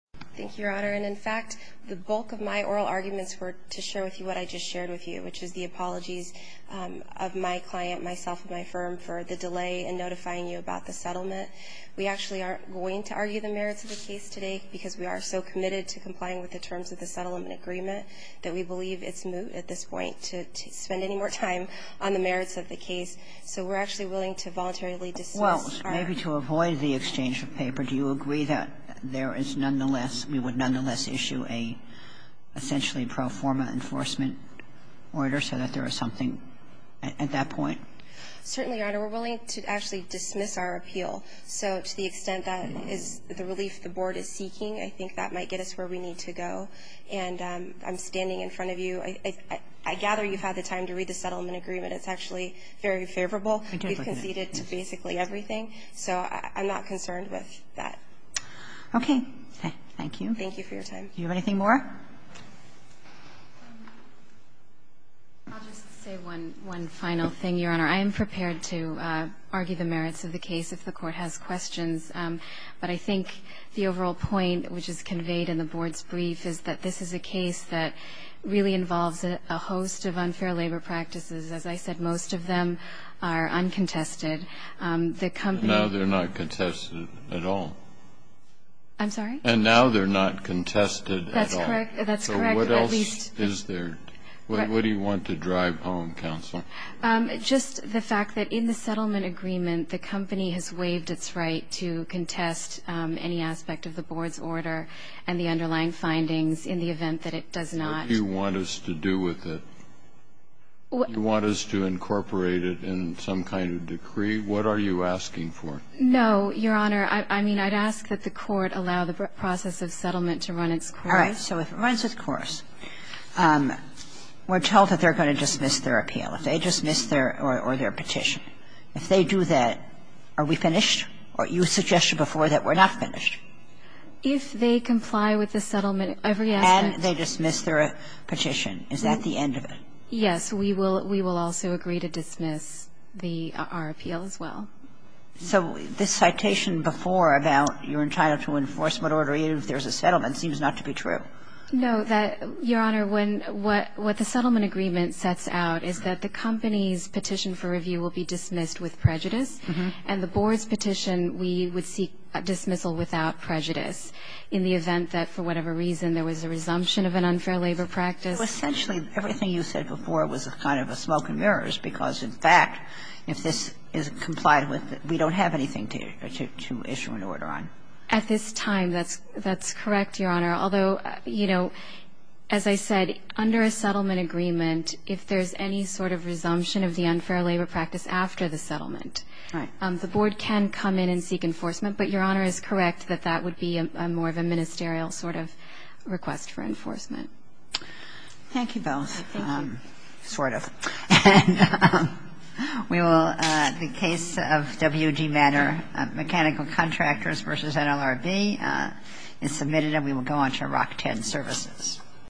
Thank you, Your Honor. And, in fact, the bulk of my oral arguments were to share with you what I just shared with you, which is the apologies of my client, myself, and my firm for the delay in notifying you about the settlement. We actually aren't going to argue the merits of the case today because we are so committed to complying with the terms of the settlement agreement that we believe it's moot at this point to spend any more time on the merits of the case. So we're actually willing to voluntarily dismiss our appeal. Well, maybe to avoid the exchange of paper, do you agree that there is nonetheless we would nonetheless issue a essentially pro forma enforcement order so that there is something at that point? Certainly, Your Honor. We're willing to actually dismiss our appeal. So to the extent that is the relief the Board is seeking, I think that might get us where we need to go. And I'm standing in front of you. I gather you've had the time to read the settlement agreement. It's actually very favorable. We've conceded to basically everything. So I'm not concerned with that. Okay. Thank you. Thank you for your time. Do you have anything more? I'll just say one final thing, Your Honor. I am prepared to argue the merits of the case if the Court has questions. But I think the overall point, which is conveyed in the Board's brief, is that this is a case that really involves a host of unfair labor practices. As I said, most of them are uncontested. Now they're not contested at all. I'm sorry? And now they're not contested at all. That's correct. So what else is there? What do you want to drive home, Counselor? Just the fact that in the settlement agreement, the company has waived its right to contest any aspect of the Board's order and the underlying findings in the event that it does not. What do you want us to do with it? Do you want us to incorporate it in some kind of decree? What are you asking for? No, Your Honor. I mean, I'd ask that the Court allow the process of settlement to run its course. All right. So if it runs its course, we're told that they're going to dismiss their appeal. If they dismiss their or their petition. If they do that, are we finished? You suggested before that we're not finished. If they comply with the settlement, every aspect. And they dismiss their petition. Is that the end of it? Yes. We will also agree to dismiss our appeal as well. So this citation before about you're entitled to an enforcement order even if there's a settlement seems not to be true. No. Your Honor, when what the settlement agreement sets out is that the company's petition for review will be dismissed with prejudice, and the Board's petition we would seek dismissal without prejudice in the event that for whatever reason there was a resumption of an unfair labor practice. Well, essentially everything you said before was a kind of a smoke and mirrors because, in fact, if this is complied with, we don't have anything to issue an order At this time, that's correct, Your Honor. Although, you know, as I said, under a settlement agreement, if there's any sort of resumption of the unfair labor practice after the settlement, the Board can come in and seek enforcement. But Your Honor is correct that that would be more of a ministerial sort of request for enforcement. Thank you both. Thank you. Sort of. We will the case of W.G. Hunter, Rock 10 Services.